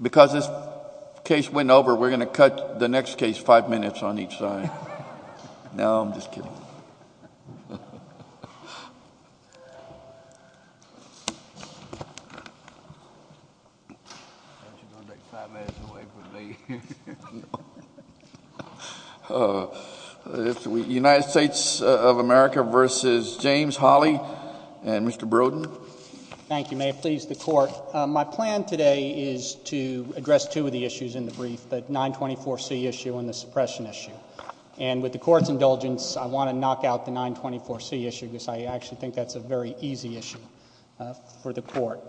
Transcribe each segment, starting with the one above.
Because this case went over, we're going to cut the next case five minutes on each side. No, I'm just kidding. United States of America v. James Holley and Mr. Brodin. Thank you. May it please the court. My plan today is to address two of the issues in the brief, the 924C issue and the suppression issue. And with the court's indulgence, I want to knock out the 924C issue because I actually think that's a very easy issue for the court.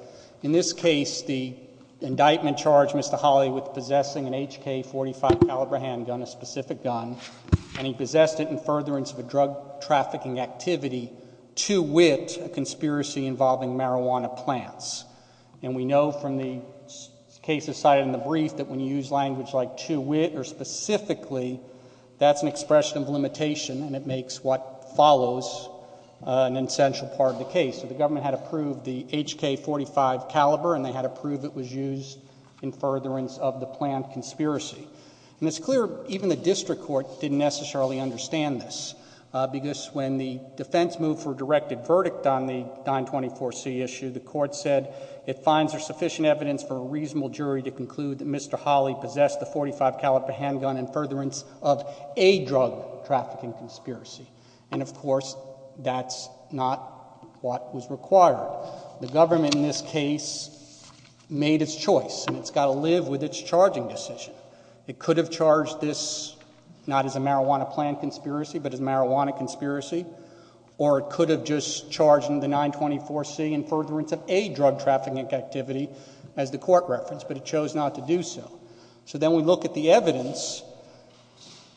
In this case, the indictment charged Mr. Holley with possessing an HK .45 caliber handgun, a specific gun, and he possessed it in furtherance of a drug trafficking activity, to wit, a conspiracy involving marijuana plants. And we know from the cases cited in the brief that when you use language like to wit or specifically, that's an expression of limitation and it makes what follows an essential part of the case. So the government had approved the HK .45 caliber and they had approved it was used in furtherance of the planned conspiracy. And it's clear even the district court didn't necessarily understand this because when the defense moved for a directed verdict on the 924C issue, the court said it finds there's sufficient evidence for a reasonable jury to conclude that Mr. Holley possessed the .45 caliber handgun in furtherance of a drug trafficking conspiracy. And of course, that's not what was required. The government in this case made its choice and it's got to live with its charging decision. It could have charged this not as a marijuana plant conspiracy but as a marijuana conspiracy or it could have just charged in the 924C in furtherance of a drug trafficking activity as the court referenced, but it chose not to do so.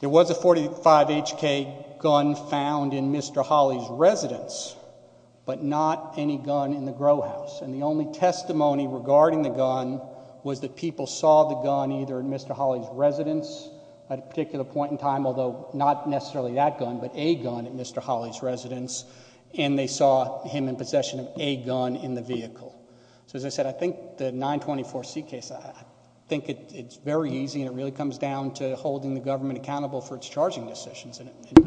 There was a .45 HK gun found in Mr. Holley's residence but not any gun in the grow house. And the only testimony regarding the gun was that people saw the gun either in Mr. Holley's residence at a particular point in time, although not necessarily that gun but a gun at Mr. Holley's residence and they saw him in possession of a gun in the vehicle. So as I said, I think the 924C case, I think it's very easy and it really comes down to holding the government accountable for its charging decisions. It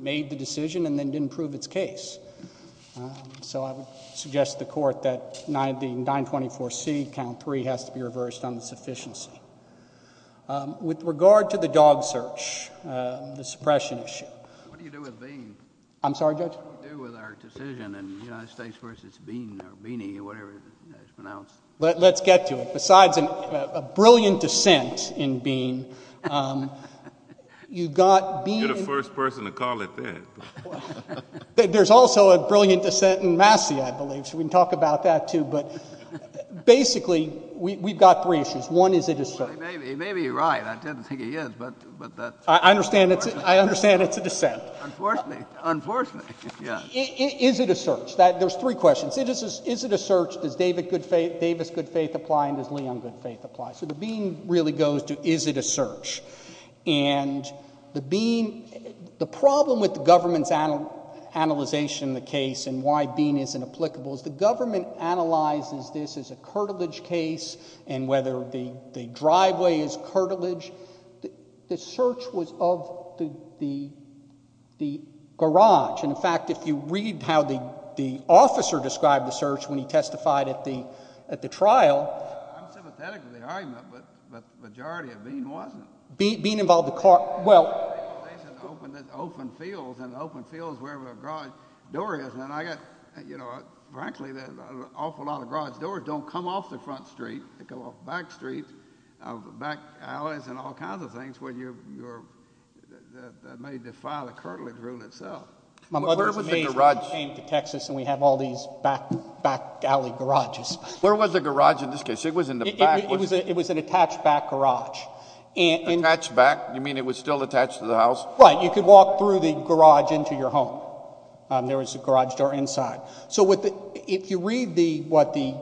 made the decision and then didn't prove its case. So I would suggest to the court that the 924C count three has to be reversed on the sufficiency. With regard to the dog search, the suppression issue. What do you do with Bean? I'm sorry, Judge? What do we do with our decision in the United States versus Bean or Beany or whatever it's pronounced? Let's get to it. Besides a brilliant dissent in Bean, you've got Bean. You're the first person to call it that. There's also a brilliant dissent in Massey, I believe, so we can talk about that, too. But basically, we've got three issues. One is a dissent. He may be right. I tend to think he is, but that's unfortunate. I understand it's a dissent. Unfortunately, yes. Is it a search? There's three questions. Is it a search? Does Davis good faith apply and does Leon good faith apply? So the Bean really goes to is it a search? And the Bean, the problem with the government's analyzation of the case and why Bean isn't applicable is the government analyzes this as a curtilage case and whether the driveway is curtilage. The search was of the garage. And, in fact, if you read how the officer described the search when he testified at the trial. I'm sympathetic to the argument, but the majority of Bean wasn't. Bean involved the car. They said open fields, and open fields wherever a garage door is. And I got, you know, frankly, an awful lot of garage doors don't come off the front street. They come off back streets, back alleys, and all kinds of things that may defy the curtilage rule itself. My mother's name came to Texas, and we have all these back alley garages. Where was the garage in this case? It was in the back. It was an attached back garage. Attached back? You mean it was still attached to the house? Right. You could walk through the garage into your home. There was a garage door inside. So if you read what the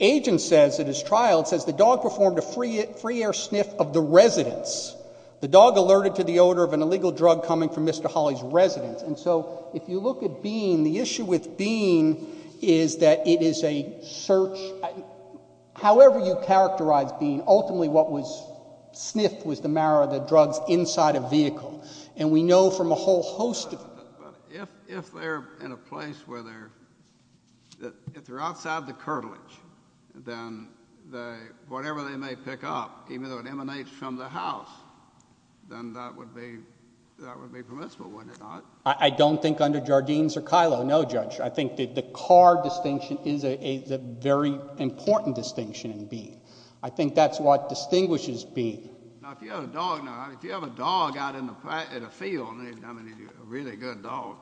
agent says at his trial, it says the dog performed a free air sniff of the residence. The dog alerted to the odor of an illegal drug coming from Mr. Holley's residence. And so if you look at Bean, the issue with Bean is that it is a search. However you characterize Bean, ultimately what was sniffed was the marrow of the drugs inside a vehicle, and we know from a whole host of them. If they're in a place where they're outside the curtilage, then whatever they may pick up, even though it emanates from the house, then that would be permissible, wouldn't it not? I don't think under Jardines or Kylo. No, Judge. I think the car distinction is a very important distinction in Bean. I think that's what distinguishes Bean. Now, if you have a dog out in the field, I mean a really good dog,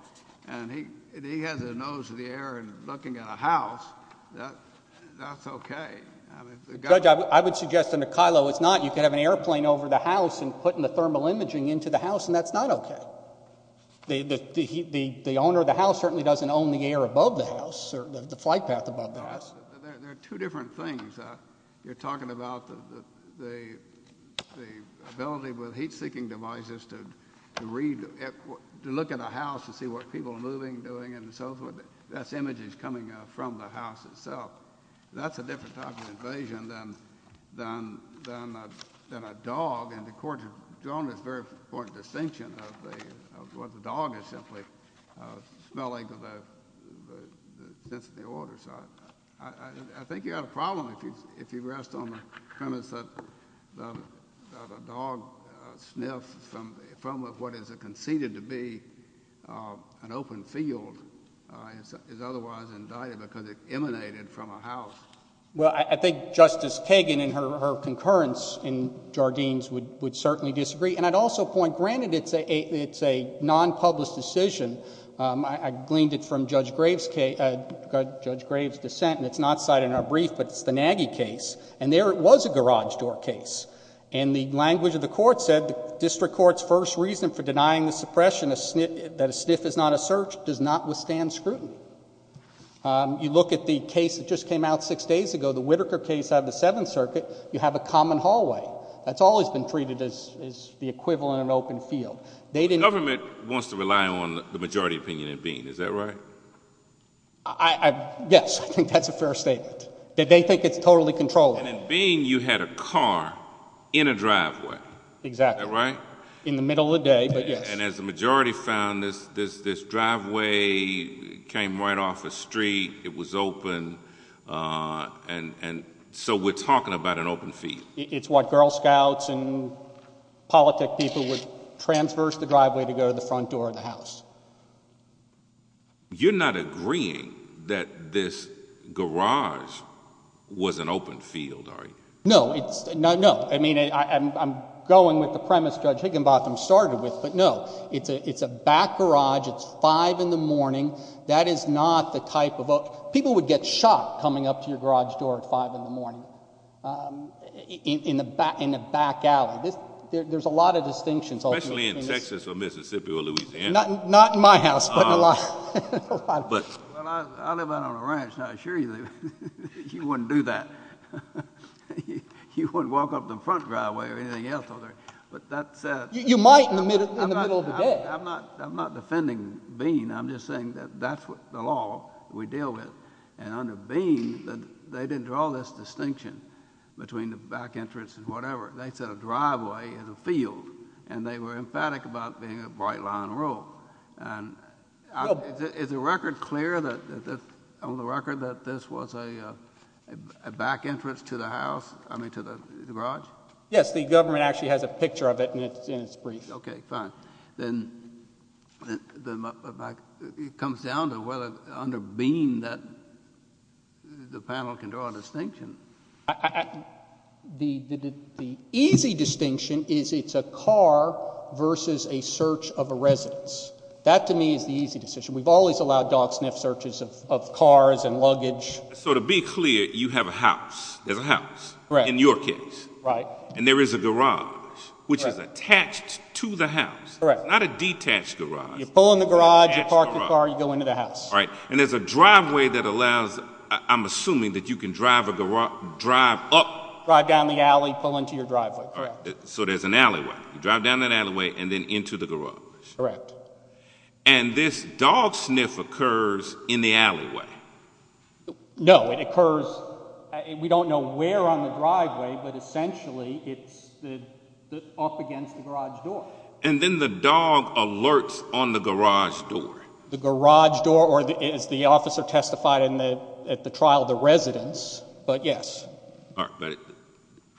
and he has his nose in the air and looking at a house, that's okay. Judge, I would suggest under Kylo it's not. You could have an airplane over the house and putting the thermal imaging into the house, and that's not okay. The owner of the house certainly doesn't own the air above the house or the flight path above the house. There are two different things. You're talking about the ability with heat-seeking devices to look at a house to see what people are moving, doing, and so forth. That's images coming from the house itself. That's a different type of invasion than a dog, and the Court has drawn this very important distinction of what the dog is simply smelling of the sense of the order. So I think you have a problem if you rest on the premise that a dog sniffs from what is conceded to be an open field and is otherwise indicted because it emanated from a house. Well, I think Justice Kagan in her concurrence in Jardine's would certainly disagree, and I'd also point, granted it's a non-published decision, I gleaned it from Judge Graves' dissent, and it's not cited in our brief, but it's the Nagy case, and there it was a garage door case, and the language of the Court said the District Court's first reason for denying the suppression, that a sniff is not a search, does not withstand scrutiny. You look at the case that just came out six days ago, the Whitaker case out of the Seventh Circuit, you have a common hallway. That's always been treated as the equivalent of an open field. The government wants to rely on the majority opinion in Bean. Is that right? Yes, I think that's a fair statement. They think it's totally controllable. And in Bean you had a car in a driveway. Exactly. Is that right? In the middle of the day, but yes. And as the majority found, this driveway came right off a street, it was open, and so we're talking about an open field. It's what Girl Scouts and politic people would transverse the driveway to go to the front door of the house. You're not agreeing that this garage was an open field, are you? No. No. I mean, I'm going with the premise Judge Higginbotham started with, but no. It's a back garage. It's 5 in the morning. That is not the type of open. People would get shocked coming up to your garage door at 5 in the morning in a back alley. There's a lot of distinctions. Especially in Texas or Mississippi or Louisiana. Not in my house, but in a lot of places. Well, I live out on a ranch, and I assure you, you wouldn't do that. You wouldn't walk up to the front driveway or anything else over there. You might in the middle of the day. I'm not defending Bean. I'm just saying that that's the law we deal with. And under Bean, they didn't draw this distinction between the back entrance and whatever. They said a driveway is a field, and they were emphatic about it being a bright line road. Is the record clear on the record that this was a back entrance to the garage? Yes, the government actually has a picture of it in its briefs. Okay, fine. Then it comes down to whether under Bean the panel can draw a distinction. The easy distinction is it's a car versus a search of a residence. That, to me, is the easy decision. We've always allowed dog sniff searches of cars and luggage. So to be clear, you have a house. There's a house in your case. Right. And there is a garage, which is attached to the house. Correct. Not a detached garage. You pull in the garage, you park your car, you go into the house. Right. And there's a driveway that allows—I'm assuming that you can drive up— Drive down the alley, pull into your driveway. Correct. So there's an alleyway. You drive down that alleyway and then into the garage. Correct. And this dog sniff occurs in the alleyway. No, it occurs—we don't know where on the driveway, but essentially it's off against the garage door. And then the dog alerts on the garage door. The garage door, or as the officer testified at the trial, the residence, but yes. All right.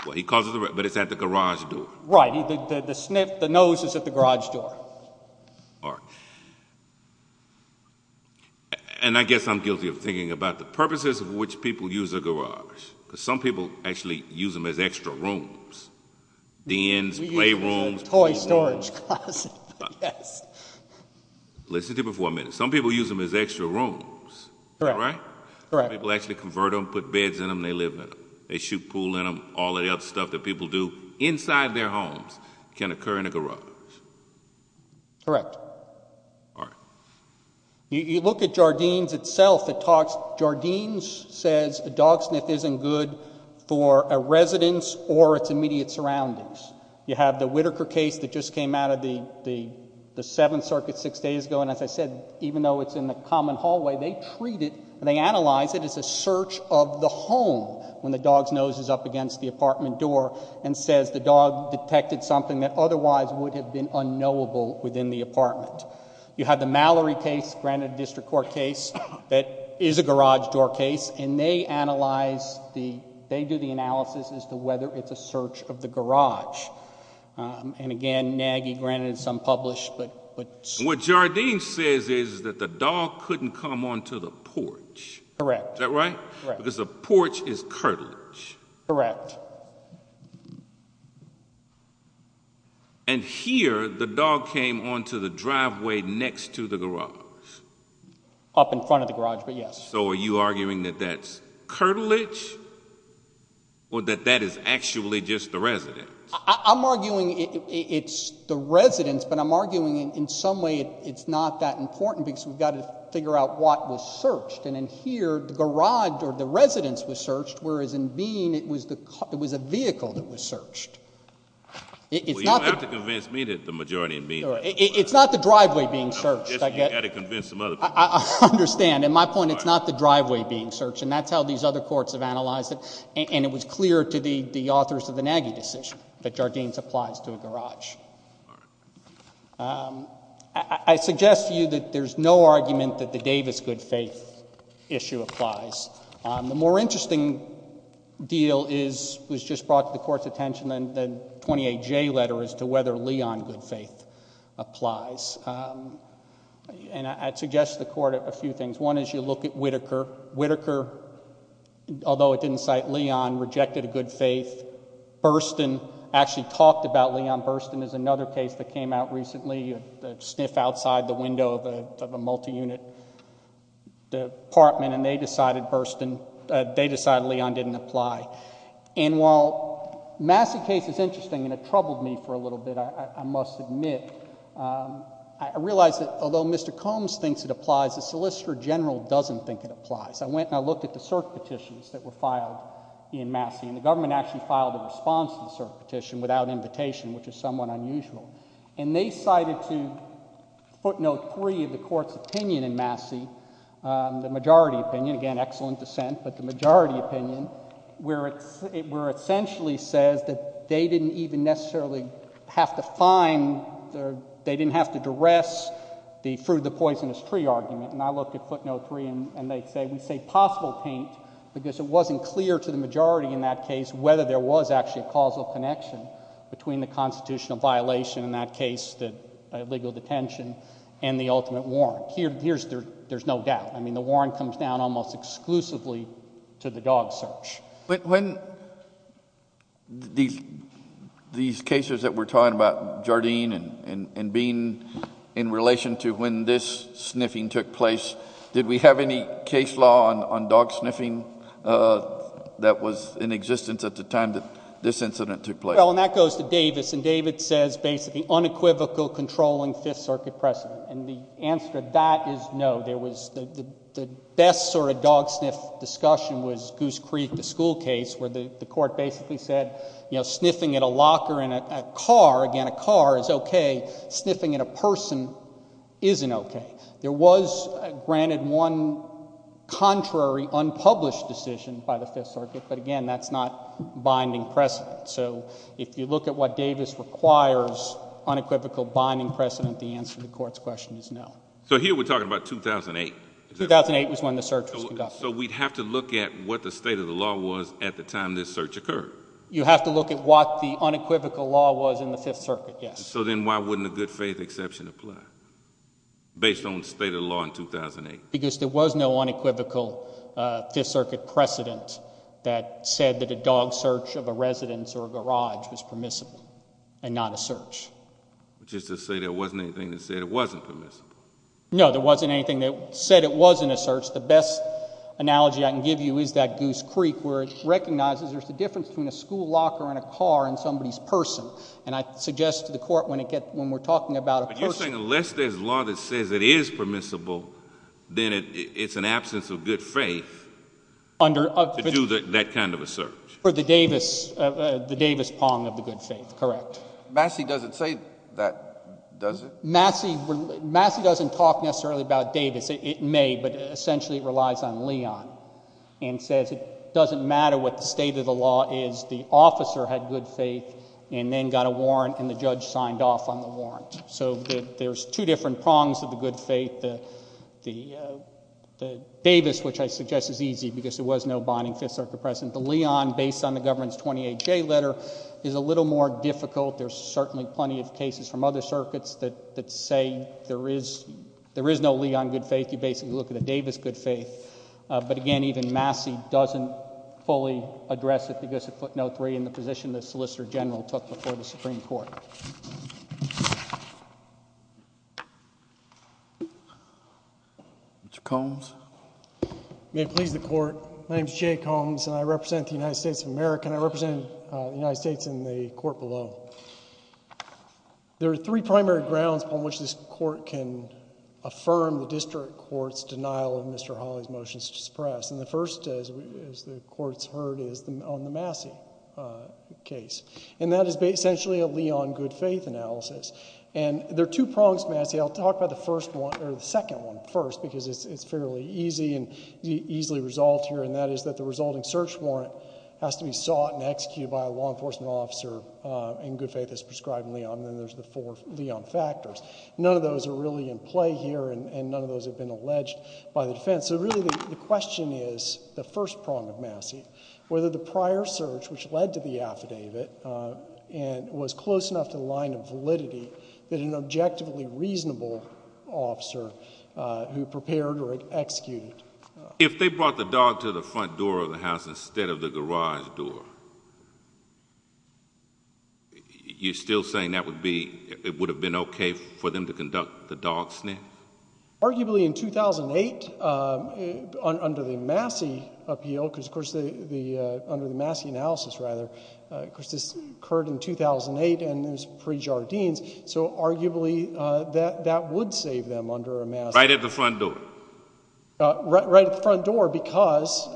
But he calls it the—but it's at the garage door. Right. The sniff, the nose, is at the garage door. All right. And I guess I'm guilty of thinking about the purposes of which people use a garage, because some people actually use them as extra rooms, dens, playrooms. We use them as a toy storage closet. Yes. Listen to me for a minute. Some people use them as extra rooms, right? Correct. Some people actually convert them, put beds in them, they live in them. They shoot pool in them. All of the other stuff that people do inside their homes can occur in a garage. Correct. All right. You look at Jardines itself, it talks—Jardines says the dog sniff isn't good for a residence or its immediate surroundings. You have the Whitaker case that just came out of the Seventh Circuit six days ago, and as I said, even though it's in the common hallway, they treat it, they analyze it as a search of the home when the dog's nose is up against the apartment door and says the dog detected something that otherwise would have been unknowable within the apartment. You have the Mallory case, granted a district court case, that is a garage door case, and they analyze the—they do the analysis as to whether it's a search of the garage. And again, naggy, granted it's unpublished, but— What Jardines says is that the dog couldn't come onto the porch. Correct. Is that right? Correct. Because the porch is curtilage. Correct. And here, the dog came onto the driveway next to the garage. Up in front of the garage, but yes. So are you arguing that that's curtilage or that that is actually just the residence? I'm arguing it's the residence, but I'm arguing in some way it's not that important because we've got to figure out what was searched. And in here, the garage or the residence was searched, whereas in Bean it was a vehicle that was searched. Well, you don't have to convince me that the majority in Bean— It's not the driveway being searched. You've got to convince some other people. I understand. In my point, it's not the driveway being searched, and that's how these other courts have analyzed it. And it was clear to the authors of the naggy decision that Jardines applies to a garage. I suggest to you that there's no argument that the Davis good faith issue applies. The more interesting deal was just brought to the Court's attention, the 28J letter, as to whether Leon good faith applies. And I'd suggest to the Court a few things. One is you look at Whittaker. Whittaker, although it didn't cite Leon, rejected a good faith. Burstyn actually talked about Leon. Burstyn is another case that came out recently, a sniff outside the window of a multi-unit department, and they decided Leon didn't apply. And while Massey case is interesting and it troubled me for a little bit, I must admit, I realize that although Mr. Combs thinks it applies, the Solicitor General doesn't think it applies. I went and I looked at the cert petitions that were filed in Massey, and the government actually filed a response to the cert petition without invitation, which is somewhat unusual. And they cited to footnote three of the Court's opinion in Massey, the majority opinion. Again, excellent dissent, but the majority opinion, where it essentially says that they didn't even necessarily have to find, they didn't have to duress the fruit of the poisonous tree argument. And I looked at footnote three, and they say, we say possible taint, because it wasn't clear to the majority in that case whether there was actually a causal connection between the constitutional violation in that case, the legal detention, and the ultimate warrant. Here, there's no doubt. I mean, the warrant comes down almost exclusively to the dog search. When these cases that we're talking about, Jardine and Bean, in relation to when this sniffing took place, did we have any case law on dog sniffing that was in existence at the time that this incident took place? Well, and that goes to Davis, and Davis says basically unequivocal controlling Fifth Circuit precedent. And the answer to that is no. There was the best sort of dog sniff discussion was Goose Creek, the school case, where the Court basically said, you know, sniffing at a locker in a car, again, a car is okay. Sniffing at a person isn't okay. There was, granted, one contrary unpublished decision by the Fifth Circuit, but again, that's not binding precedent. So if you look at what Davis requires, unequivocal binding precedent, the answer to the Court's question is no. So here we're talking about 2008? 2008 was when the search was conducted. So we'd have to look at what the state of the law was at the time this search occurred? You have to look at what the unequivocal law was in the Fifth Circuit, yes. So then why wouldn't a good faith exception apply based on the state of the law in 2008? Because there was no unequivocal Fifth Circuit precedent that said that a dog search of a residence or a garage was permissible and not a search. Just to say there wasn't anything that said it wasn't permissible? No, there wasn't anything that said it wasn't a search. The best analogy I can give you is that Goose Creek, where it recognizes there's a difference between a school locker and a car and somebody's person. But you're saying unless there's law that says it is permissible, then it's an absence of good faith to do that kind of a search? For the Davis pong of the good faith, correct. Massey doesn't say that, does he? Massey doesn't talk necessarily about Davis. It may, but essentially it relies on Leon and says it doesn't matter what the state of the law is. The officer had good faith and then got a warrant and the judge signed off on the warrant. So there's two different prongs of the good faith. The Davis, which I suggest is easy because there was no bonding Fifth Circuit precedent. The Leon, based on the government's 28J letter, is a little more difficult. There's certainly plenty of cases from other circuits that say there is no Leon good faith. You basically look at the Davis good faith. But again, even Massey doesn't fully address it in the position the Solicitor General took before the Supreme Court. Mr. Combs? May it please the Court, my name is Jay Combs and I represent the United States of America and I represent the United States in the court below. There are three primary grounds on which this court can affirm the district court's denial of Mr. Hawley's motions to suppress. And the first, as the Court's heard, is on the Massey case. And that is essentially a Leon good faith analysis. And there are two prongs to Massey. I'll talk about the second one first because it's fairly easy and easily resolved here, and that is that the resulting search warrant has to be sought and executed by a law enforcement officer in good faith as prescribed in Leon, and then there's the four Leon factors. None of those are really in play here and none of those have been alleged by the defense. So really the question is, the first prong of Massey, whether the prior search which led to the affidavit was close enough to the line of validity that an objectively reasonable officer who prepared or executed. If they brought the dog to the front door of the house instead of the garage door, you're still saying that would be, it would have been okay for them to conduct the dog sniff? Arguably in 2008 under the Massey appeal, because of course under the Massey analysis rather, because this occurred in 2008 and it was pre-Jardines, so arguably that would save them under a Massey. Right at the front door. Right at the front door because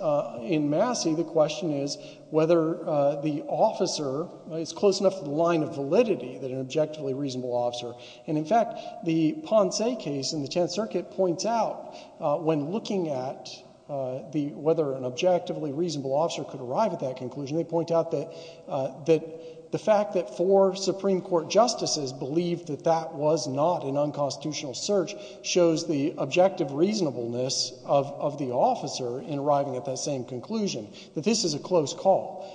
in Massey the question is whether the officer is close enough to the line of validity that an objectively reasonable officer, and in fact the Ponce case in the Tenth Circuit points out when looking at whether an objectively reasonable officer could arrive at that conclusion, they point out that the fact that four Supreme Court justices believed that that was not an unconstitutional search shows the objective reasonableness of the officer in arriving at that same conclusion, that this is a close call,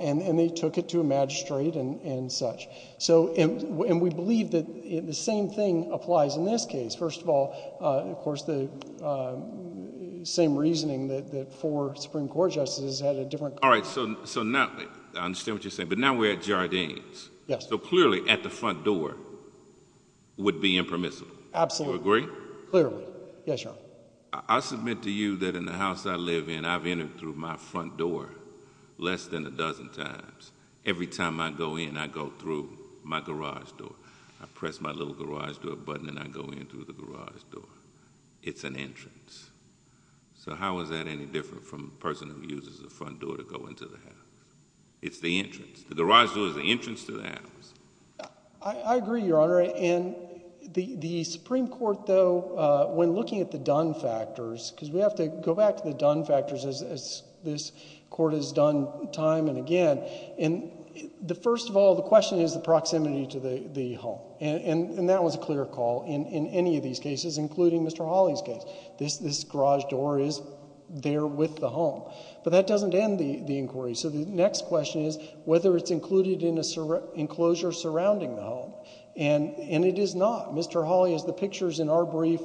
and they took it to a magistrate and such. So, and we believe that the same thing applies in this case. First of all, of course the same reasoning that four Supreme Court justices had a different. All right, so now, I understand what you're saying, but now we're at Jardines. Yes. So clearly at the front door would be impermissible. Absolutely. Do you agree? Clearly. Yes, Your Honor. I submit to you that in the house I live in I've entered through my front door less than a dozen times. Every time I go in I go through my garage door. I press my little garage door button and I go in through the garage door. It's an entrance. So how is that any different from a person who uses the front door to go into the house? It's the entrance. The garage door is the entrance to the house. I agree, Your Honor. And the Supreme Court, though, when looking at the done factors, because we have to go back to the done factors as this court has done time and again. And the first of all, the question is the proximity to the home. And that was a clear call in any of these cases, including Mr. Hawley's case. This garage door is there with the home. But that doesn't end the inquiry. So the next question is whether it's included in an enclosure surrounding the home. And it is not. Mr. Hawley, as the pictures in our brief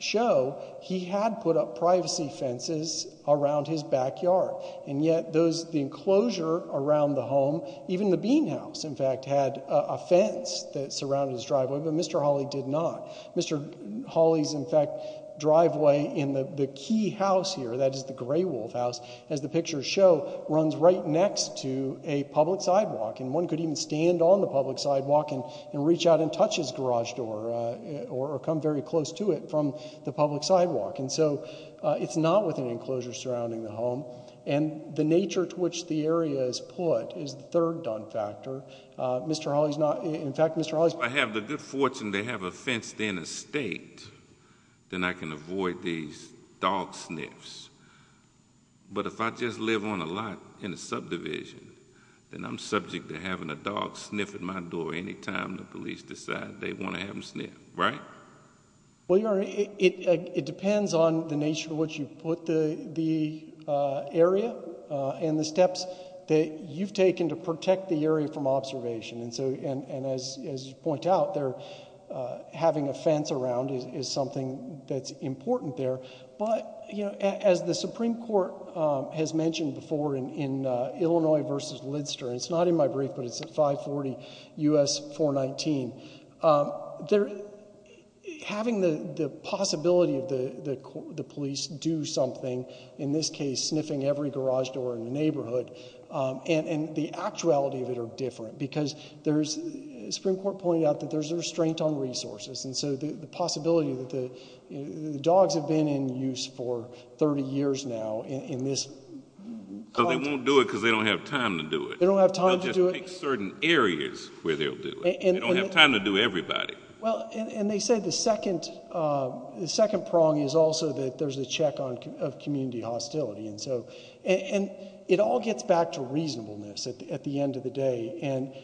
show, he had put up privacy fences around his backyard. And yet the enclosure around the home, even the bean house, in fact, had a fence that surrounded his driveway, but Mr. Hawley did not. Mr. Hawley's, in fact, driveway in the key house here, that is the gray wolf house, as the pictures show, runs right next to a public sidewalk. And one could even stand on the public sidewalk and reach out and touch his garage door or come very close to it from the public sidewalk. And so it's not with an enclosure surrounding the home. And the nature to which the area is put is the third done factor. Mr. Hawley's not. In fact, Mr. Hawley's. If I have the good fortune to have a fenced-in estate, then I can avoid these dog sniffs. But if I just live on a lot in a subdivision, then I'm subject to having a dog sniff at my door any time the police decide they want to have him sniffed. Right? Well, Your Honor, it depends on the nature to which you put the area and the steps that you've taken to protect the area from observation. And as you point out, having a fence around is something that's important there. But, you know, as the Supreme Court has mentioned before in Illinois v. Lidster, and it's not in my brief, but it's at 540 U.S. 419, having the possibility of the police do something, in this case, sniffing every garage door in the neighborhood and the actuality of it are different because the Supreme Court pointed out that there's a restraint on resources. And so the possibility that the dogs have been in use for 30 years now in this context. Because they won't do it because they don't have time to do it. They don't have time to do it. They'll just pick certain areas where they'll do it. They don't have time to do everybody. Well, and they say the second prong is also that there's a check of community hostility. And it all gets back to reasonableness at the end of the day. And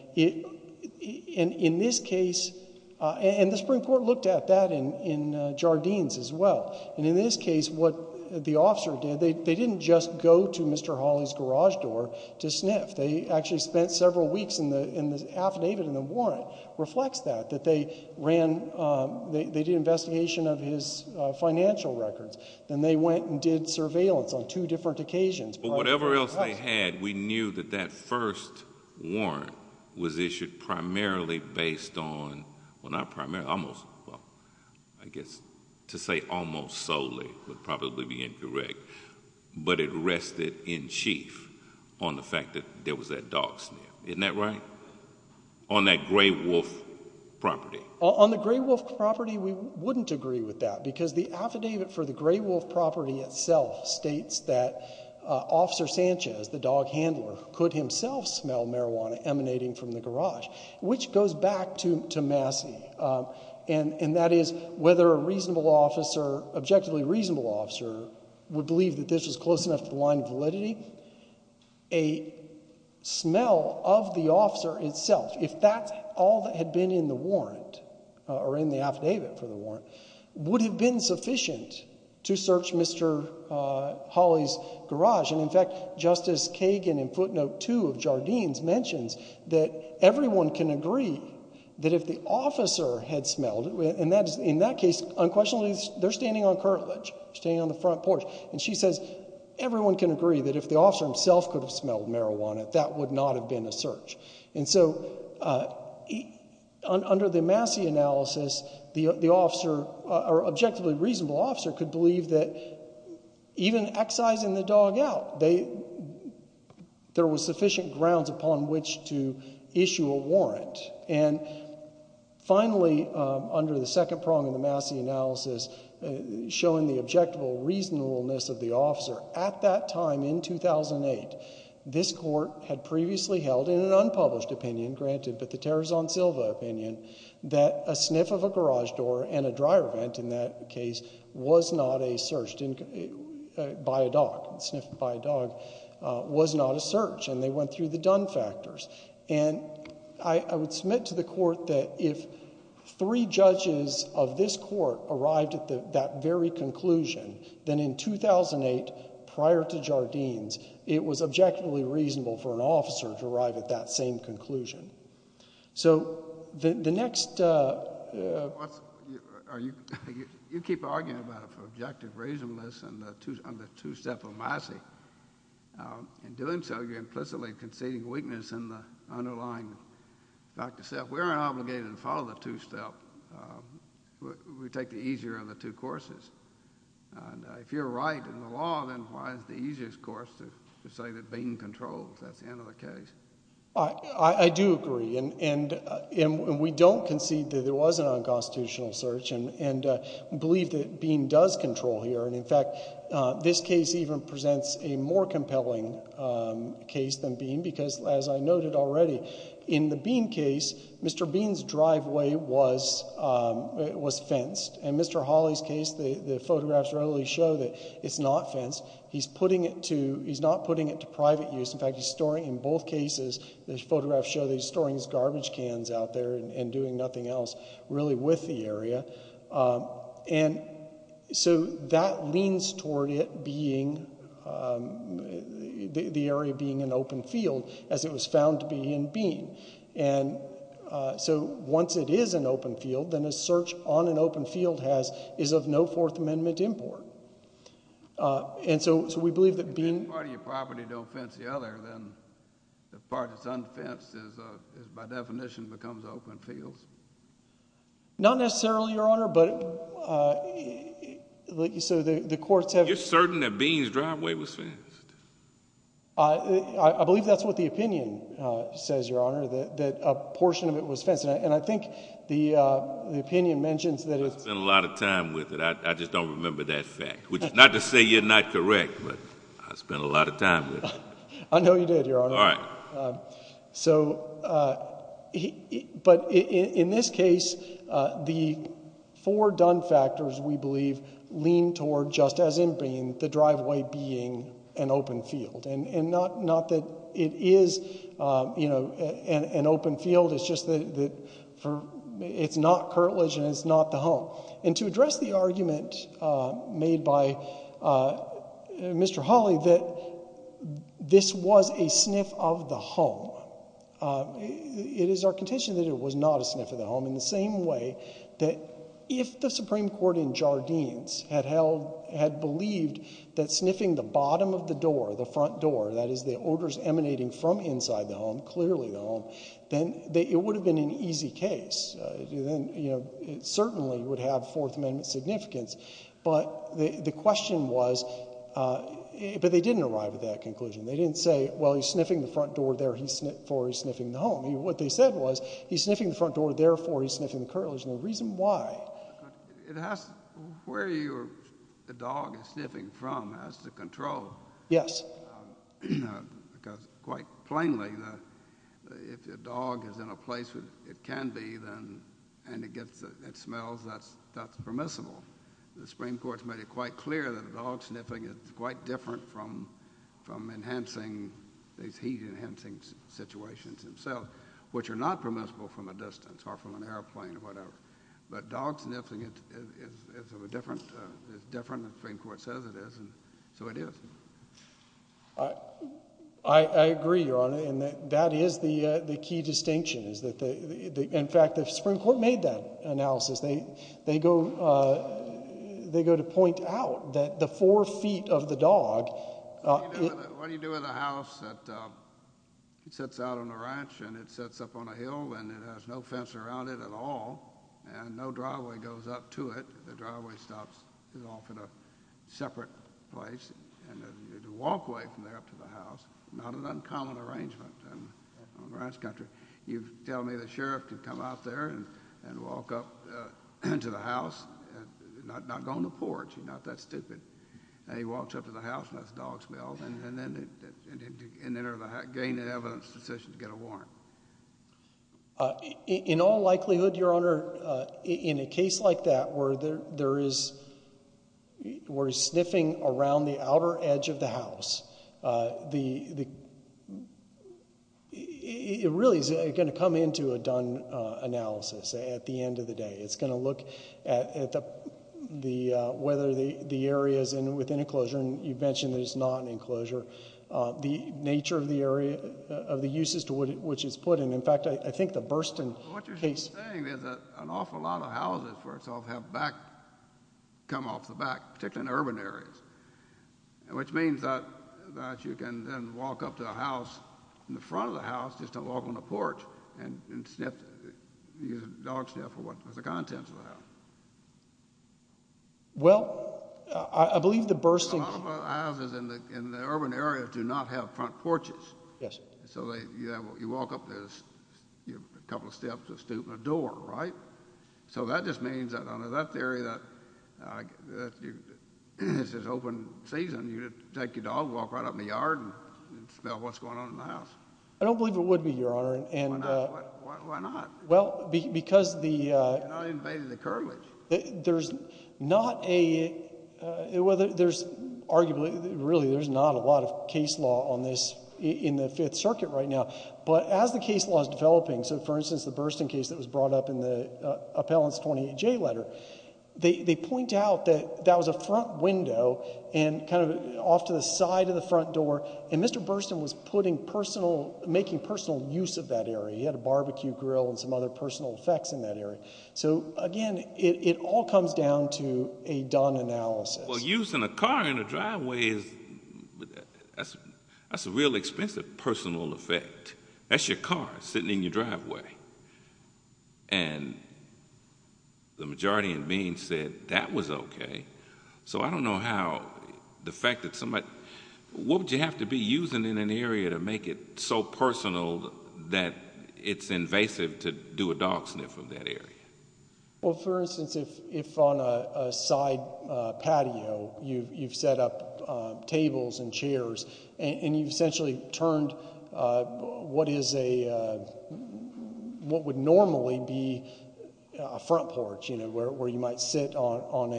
in this case, and the Supreme Court looked at that in Jardines as well. And in this case, what the officer did, they didn't just go to Mr. Hawley's garage door to sniff. They actually spent several weeks in the affidavit and the warrant reflects that, that they did an investigation of his financial records. Then they went and did surveillance on two different occasions. But whatever else they had, we knew that that first warrant was issued primarily based on, well not primarily, almost, I guess to say almost solely would probably be incorrect. But it rested in chief on the fact that there was that dog sniff. Isn't that right? On that Gray Wolf property. On the Gray Wolf property, we wouldn't agree with that. Because the affidavit for the Gray Wolf property itself states that Officer Sanchez, the dog handler, could himself smell marijuana emanating from the garage, which goes back to Massey. And that is whether a reasonable officer, objectively reasonable officer, would believe that this was close enough to the line of validity. A smell of the officer itself, if that's all that had been in the warrant, or in the affidavit for the warrant, would have been sufficient to search Mr. Hawley's garage. And in fact, Justice Kagan in footnote two of Jardine's mentions that everyone can agree that if the officer had smelled, and in that case, unquestionably, they're standing on curtilage, standing on the front porch. And she says everyone can agree that if the officer himself could have smelled marijuana, that would not have been a search. And so under the Massey analysis, the officer, or objectively reasonable officer, could believe that even excising the dog out, there was sufficient grounds upon which to issue a warrant. And finally, under the second prong of the Massey analysis, showing the objectable reasonableness of the officer, at that time in 2008, that this court had previously held in an unpublished opinion, granted, but the Tarazon Silva opinion, that a sniff of a garage door and a dryer vent, in that case, was not a search by a dog. A sniff by a dog was not a search, and they went through the done factors. And I would submit to the court that if three judges of this court arrived at that very conclusion, then in 2008, prior to Jardine's, it was objectively reasonable for an officer to arrive at that same conclusion. So the next- You keep arguing about objective reasonableness on the two-step of Massey. In doing so, you're implicitly conceding weakness in the underlying. Dr. Sepp, we aren't obligated to follow the two-step. We take the easier of the two courses. And if you're right in the law, then why is the easiest course to say that Bean controls? That's the end of the case. I do agree, and we don't concede that there was an unconstitutional search and believe that Bean does control here. And in fact, this case even presents a more compelling case than Bean because, as I noted already, in the Bean case, Mr. Bean's driveway was fenced. In Mr. Hawley's case, the photographs readily show that it's not fenced. He's not putting it to private use. In fact, in both cases, the photographs show that he's storing his garbage cans out there and doing nothing else really with the area. And so that leans toward it being the area being an open field as it was found to be in Bean. And so once it is an open field, then a search on an open field is of no Fourth Amendment import. And so we believe that Bean— If one part of your property don't fence the other, then the part that's unfenced by definition becomes open fields? Not necessarily, Your Honor, but like you said, the courts have— You're certain that Bean's driveway was fenced? I believe that's what the opinion says, Your Honor, that a portion of it was fenced. And I think the opinion mentions that it's— I spent a lot of time with it. I just don't remember that fact, which is not to say you're not correct, but I spent a lot of time with it. I know you did, Your Honor. All right. So—but in this case, the four done factors, we believe, lean toward, just as in Bean, the driveway being an open field. And not that it is an open field. It's just that it's not curtilage and it's not the home. And to address the argument made by Mr. Hawley that this was a sniff of the home, it is our contention that it was not a sniff of the home, in the same way that if the Supreme Court in Jardines had held— had believed that sniffing the bottom of the door, the front door, that is the odors emanating from inside the home, clearly the home, then it would have been an easy case. It certainly would have Fourth Amendment significance. But the question was—but they didn't arrive at that conclusion. They didn't say, well, he's sniffing the front door, therefore he's sniffing the home. What they said was, he's sniffing the front door, therefore he's sniffing the curtilage. And the reason why— It has to—where the dog is sniffing from has to control. Yes. Because quite plainly, if the dog is in a place where it can be, and it smells, that's permissible. The Supreme Court has made it quite clear that dog sniffing is quite different from enhancing—these heat-enhancing situations themselves, which are not permissible from a distance or from an airplane or whatever. But dog sniffing is different. And the Supreme Court says it is, and so it is. I agree, Your Honor, and that is the key distinction. In fact, the Supreme Court made that analysis. They go to point out that the four feet of the dog— What do you do with a house that sits out on a ranch and it sits up on a hill and it has no fence around it at all, and no driveway goes up to it? The driveway stops off at a separate place, and you walk away from there up to the house. Not an uncommon arrangement in a ranch country. You tell me the sheriff can come out there and walk up to the house, not go on the porch. He's not that stupid. He walks up to the house and lets the dog smell, and then gain an evidence decision to get a warrant. In all likelihood, Your Honor, in a case like that where he's sniffing around the outer edge of the house, it really is going to come into a Dunn analysis at the end of the day. It's going to look at whether the area is within enclosure, the nature of the area, of the uses to which it's put in. In fact, I think the Burston case— What you're saying is that an awful lot of houses, first off, have come off the back, particularly in urban areas, which means that you can then walk up to the house, in the front of the house, just to walk on the porch and use a dog sniff for the contents of the house. Well, I believe the Burston— Well, a lot of houses in the urban area do not have front porches. Yes, sir. So you walk up, there's a couple of steps, a stoop, and a door, right? So that just means that under that theory that it's an open season, you take your dog, walk right up in the yard, and smell what's going on in the house. I don't believe it would be, Your Honor. Why not? Well, because the— You're not invading the cartilage. There's not a— Well, there's arguably— Really, there's not a lot of case law on this in the Fifth Circuit right now. But as the case law is developing— So, for instance, the Burston case that was brought up in the appellant's 28J letter, they point out that that was a front window and kind of off to the side of the front door, and Mr. Burston was making personal use of that area. He had a barbecue grill and some other personal effects in that area. So, again, it all comes down to a Don analysis. Well, using a car in a driveway is— That's a real expensive personal effect. That's your car sitting in your driveway. And the majority of the beings said that was okay. So I don't know how the fact that somebody— What would you have to be using in an area to make it so personal that it's invasive to do a dog sniff of that area? Well, for instance, if on a side patio, you've set up tables and chairs, and you've essentially turned what is a— what would normally be a front porch, where you might sit on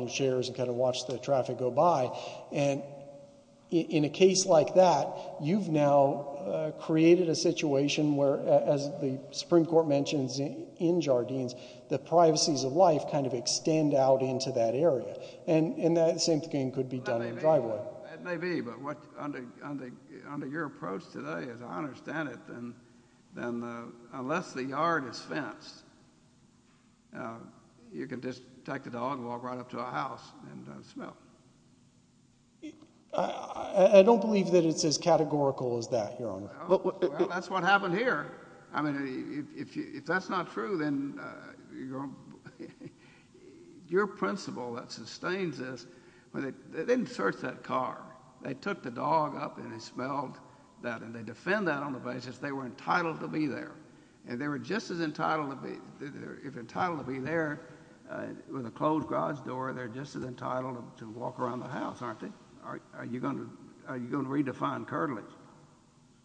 your chairs and kind of watch the traffic go by. And in a case like that, you've now created a situation where, as the Supreme Court mentions in Jardines, the privacies of life kind of extend out into that area. And the same thing could be done in a driveway. That may be, but under your approach today, as I understand it, then unless the yard is fenced, you can just take the dog and walk right up to a house and smell. I don't believe that it's as categorical as that, Your Honor. Well, that's what happened here. I mean, if that's not true, then your principle that sustains this— They didn't search that car. They took the dog up and they smelled that, and they defend that on the basis they were entitled to be there. And if they were just as entitled to be there, with a closed garage door, they're just as entitled to walk around the house, aren't they? Are you going to redefine curtilage?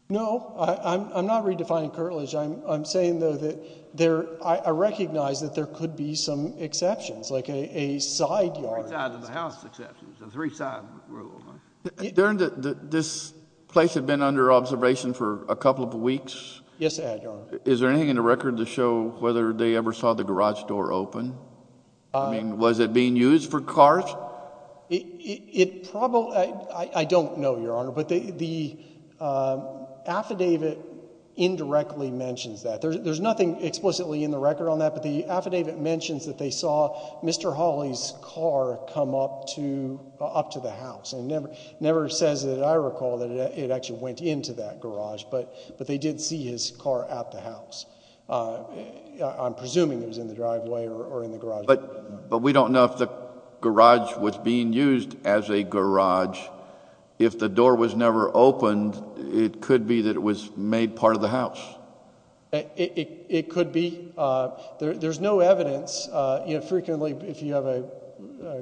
No, I'm not redefining curtilage. I'm saying, though, that there— I recognize that there could be some exceptions, like a side yard. Three-side of the house exceptions, the three-side rule. This place had been under observation for a couple of weeks? Yes, I had, Your Honor. Is there anything in the record to show whether they ever saw the garage door open? I mean, was it being used for cars? It probably—I don't know, Your Honor, but the affidavit indirectly mentions that. There's nothing explicitly in the record on that, but the affidavit mentions that they saw Mr. Hawley's car come up to the house. It never says that I recall that it actually went into that garage, but they did see his car at the house. I'm presuming it was in the driveway or in the garage. But we don't know if the garage was being used as a garage. If the door was never opened, it could be that it was made part of the house. It could be. There's no evidence. Frequently, if you have a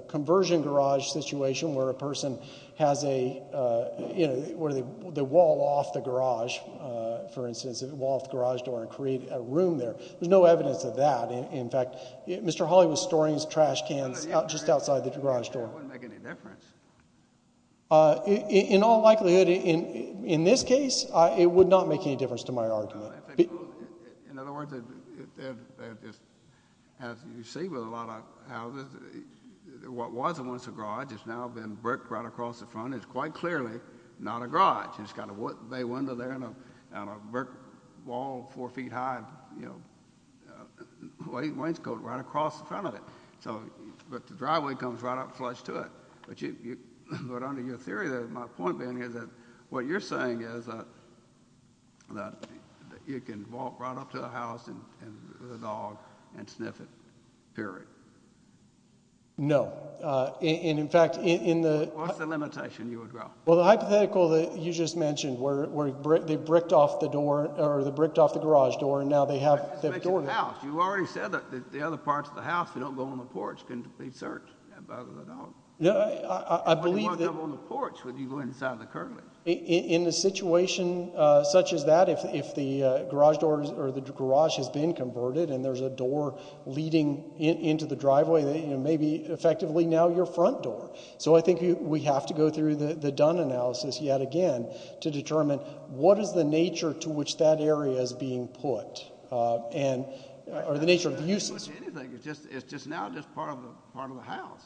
conversion garage situation where a person has a—where they wall off the garage, for instance, wall off the garage door and create a room there, there's no evidence of that. In fact, Mr. Hawley was storing his trash cans just outside the garage door. It wouldn't make any difference. In all likelihood, in this case, it would not make any difference to my argument. In other words, as you see with a lot of houses, what was once a garage has now been bricked right across the front. It's quite clearly not a garage. It's got a bay window there and a brick wall four feet high. Wainscot right across the front of it. But the driveway comes right up flush to it. But under your theory, my point being is that what you're saying is that you can walk right up to a house with a dog and sniff it, period. No. In fact, in the— What's the limitation you would draw? Well, the hypothetical that you just mentioned where they bricked off the door or they bricked off the garage door and now they have the door— You already said that the other parts of the house, if you don't go on the porch, can be searched by the dog. I believe that— Why do you want to go on the porch when you go inside the Kerley? In a situation such as that, if the garage door or the garage has been converted and there's a door leading into the driveway, it may be effectively now your front door. So I think we have to go through the Dunn analysis yet again to determine what is the nature to which that area is being put or the nature of the uses. It's not being put to anything. It's just now just part of the house.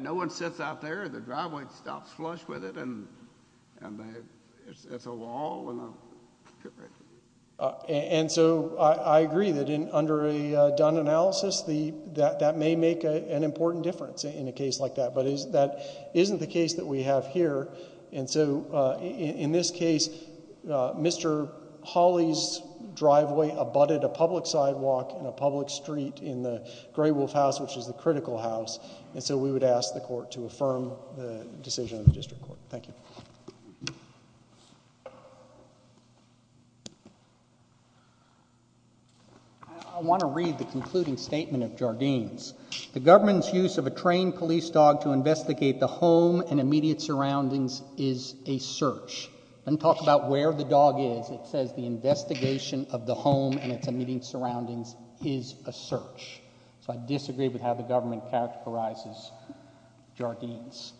No one sits out there, the driveway stops flush with it, and it's a wall. And so I agree that under a Dunn analysis, that may make an important difference in a case like that. But that isn't the case that we have here. And so in this case, Mr. Hawley's driveway abutted a public sidewalk and a public street in the Gray Wolf House, which is the critical house. And so we would ask the court to affirm the decision of the district court. Thank you. I want to read the concluding statement of Jardine's. The government's use of a trained police dog to investigate the home and immediate surroundings is a search. And talk about where the dog is. It says the investigation of the home and its immediate surroundings is a search. So I disagree with how the government characterizes Jardine's.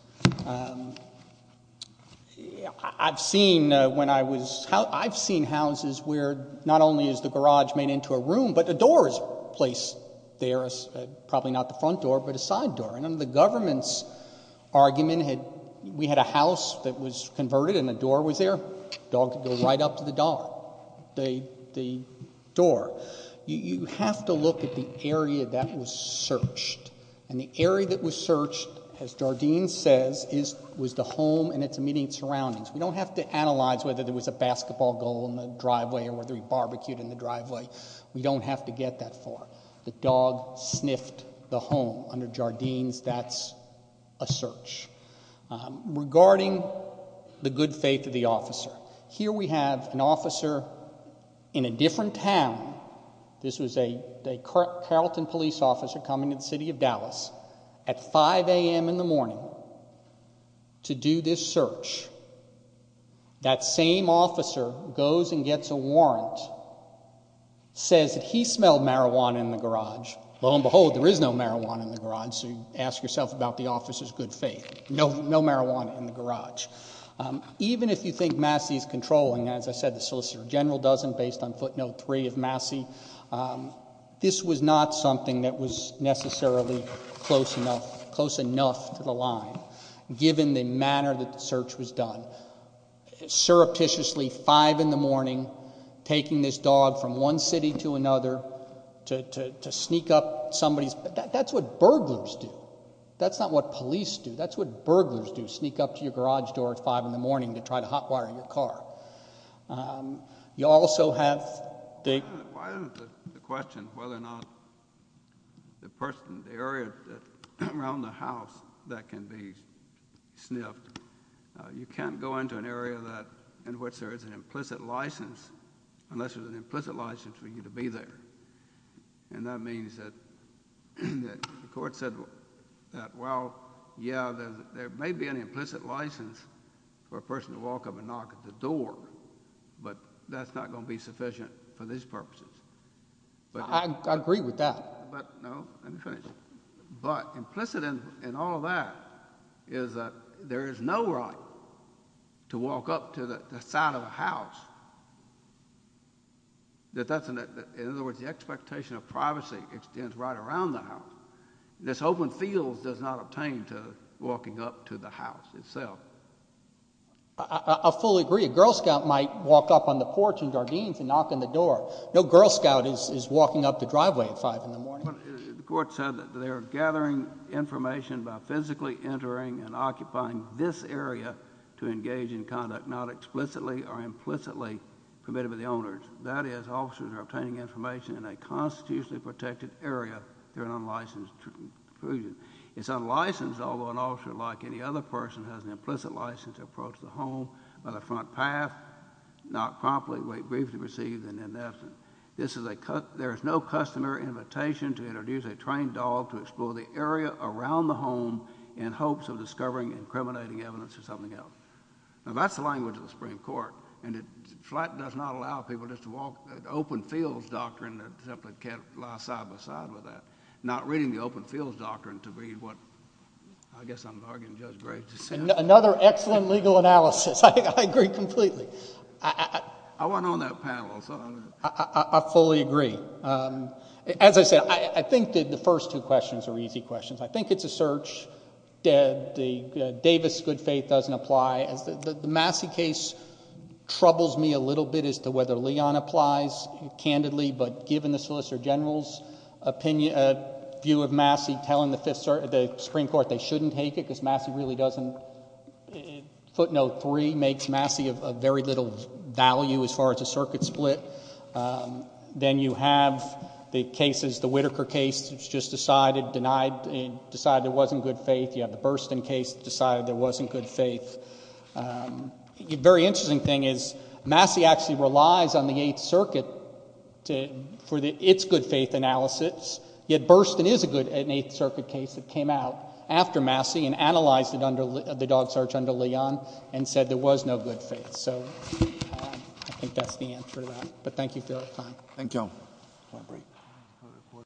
I've seen houses where not only is the garage made into a room, but a door is placed there, probably not the front door, but a side door. And under the government's argument, we had a house that was converted and a door was there. The dog could go right up to the door. You have to look at the area that was searched. And the area that was searched, as Jardine says, was the home and its immediate surroundings. We don't have to analyze whether there was a basketball goal in the driveway or whether he barbecued in the driveway. We don't have to get that far. The dog sniffed the home. Under Jardine's, that's a search. Regarding the good faith of the officer, here we have an officer in a different town. This was a Carrollton police officer coming to the city of Dallas at 5 a.m. in the morning to do this search. That same officer goes and gets a warrant, says that he smelled marijuana in the garage. Lo and behold, there is no marijuana in the garage, so you ask yourself about the officer's good faith. No marijuana in the garage. Even if you think Massey is controlling, as I said, the solicitor general doesn't, based on footnote 3 of Massey, this was not something that was necessarily close enough to the line, given the manner that the search was done. Surreptitiously, 5 in the morning, taking this dog from one city to another to sneak up somebody's, that's what burglars do. That's not what police do. That's what burglars do, sneak up to your garage door at 5 in the morning to try to hotwire your car. You also have the, Why isn't the question whether or not the person, the area around the house that can be sniffed, you can't go into an area that, in which there is an implicit license, unless there's an implicit license for you to be there. And that means that the court said that, well, yeah, there may be an implicit license for a person to walk up and knock at the door, but that's not going to be sufficient for these purposes. I agree with that. But implicit in all of that is that there is no right to walk up to the side of a house that doesn't, in other words, the expectation of privacy extends right around the house. This open field does not obtain to walking up to the house itself. I fully agree. A Girl Scout might walk up on the porch in Jardines and knock on the door. No Girl Scout is walking up the driveway at 5 in the morning. The court said that they are gathering information by physically entering and occupying this area to engage in conduct not explicitly or implicitly committed by the owners. That is, officers are obtaining information in a constitutionally protected area during an unlicensed intrusion. It's unlicensed, although an officer, like any other person, has an implicit license to approach the home by the front path, not promptly but briefly received and in essence. There is no customary invitation to introduce a trained dog to explore the area around the home in hopes of discovering incriminating evidence or something else. Now, that's the language of the Supreme Court, and it does not allow people just to walk, the open fields doctrine simply can't lie side by side with that, not reading the open fields doctrine to be what I guess I'm arguing Judge Graves just said. Another excellent legal analysis. I agree completely. I want on that panel. I fully agree. As I said, I think that the first two questions are easy questions. I think it's a search. The Davis good faith doesn't apply. The Massey case troubles me a little bit as to whether Leon applies candidly, but given the Solicitor General's view of Massey telling the Supreme Court they shouldn't take it because Massey really doesn't. Footnote three makes Massey of very little value as far as a circuit split. Then you have the cases, the Whitaker case, which just decided, denied, decided there wasn't good faith. You have the Burstyn case that decided there wasn't good faith. The very interesting thing is Massey actually relies on the Eighth Circuit for its good faith analysis, yet Burstyn is a good Eighth Circuit case that came out after Massey and analyzed it under the dog search under Leon and said there was no good faith. So I think that's the answer to that. But thank you for your time. Thank you.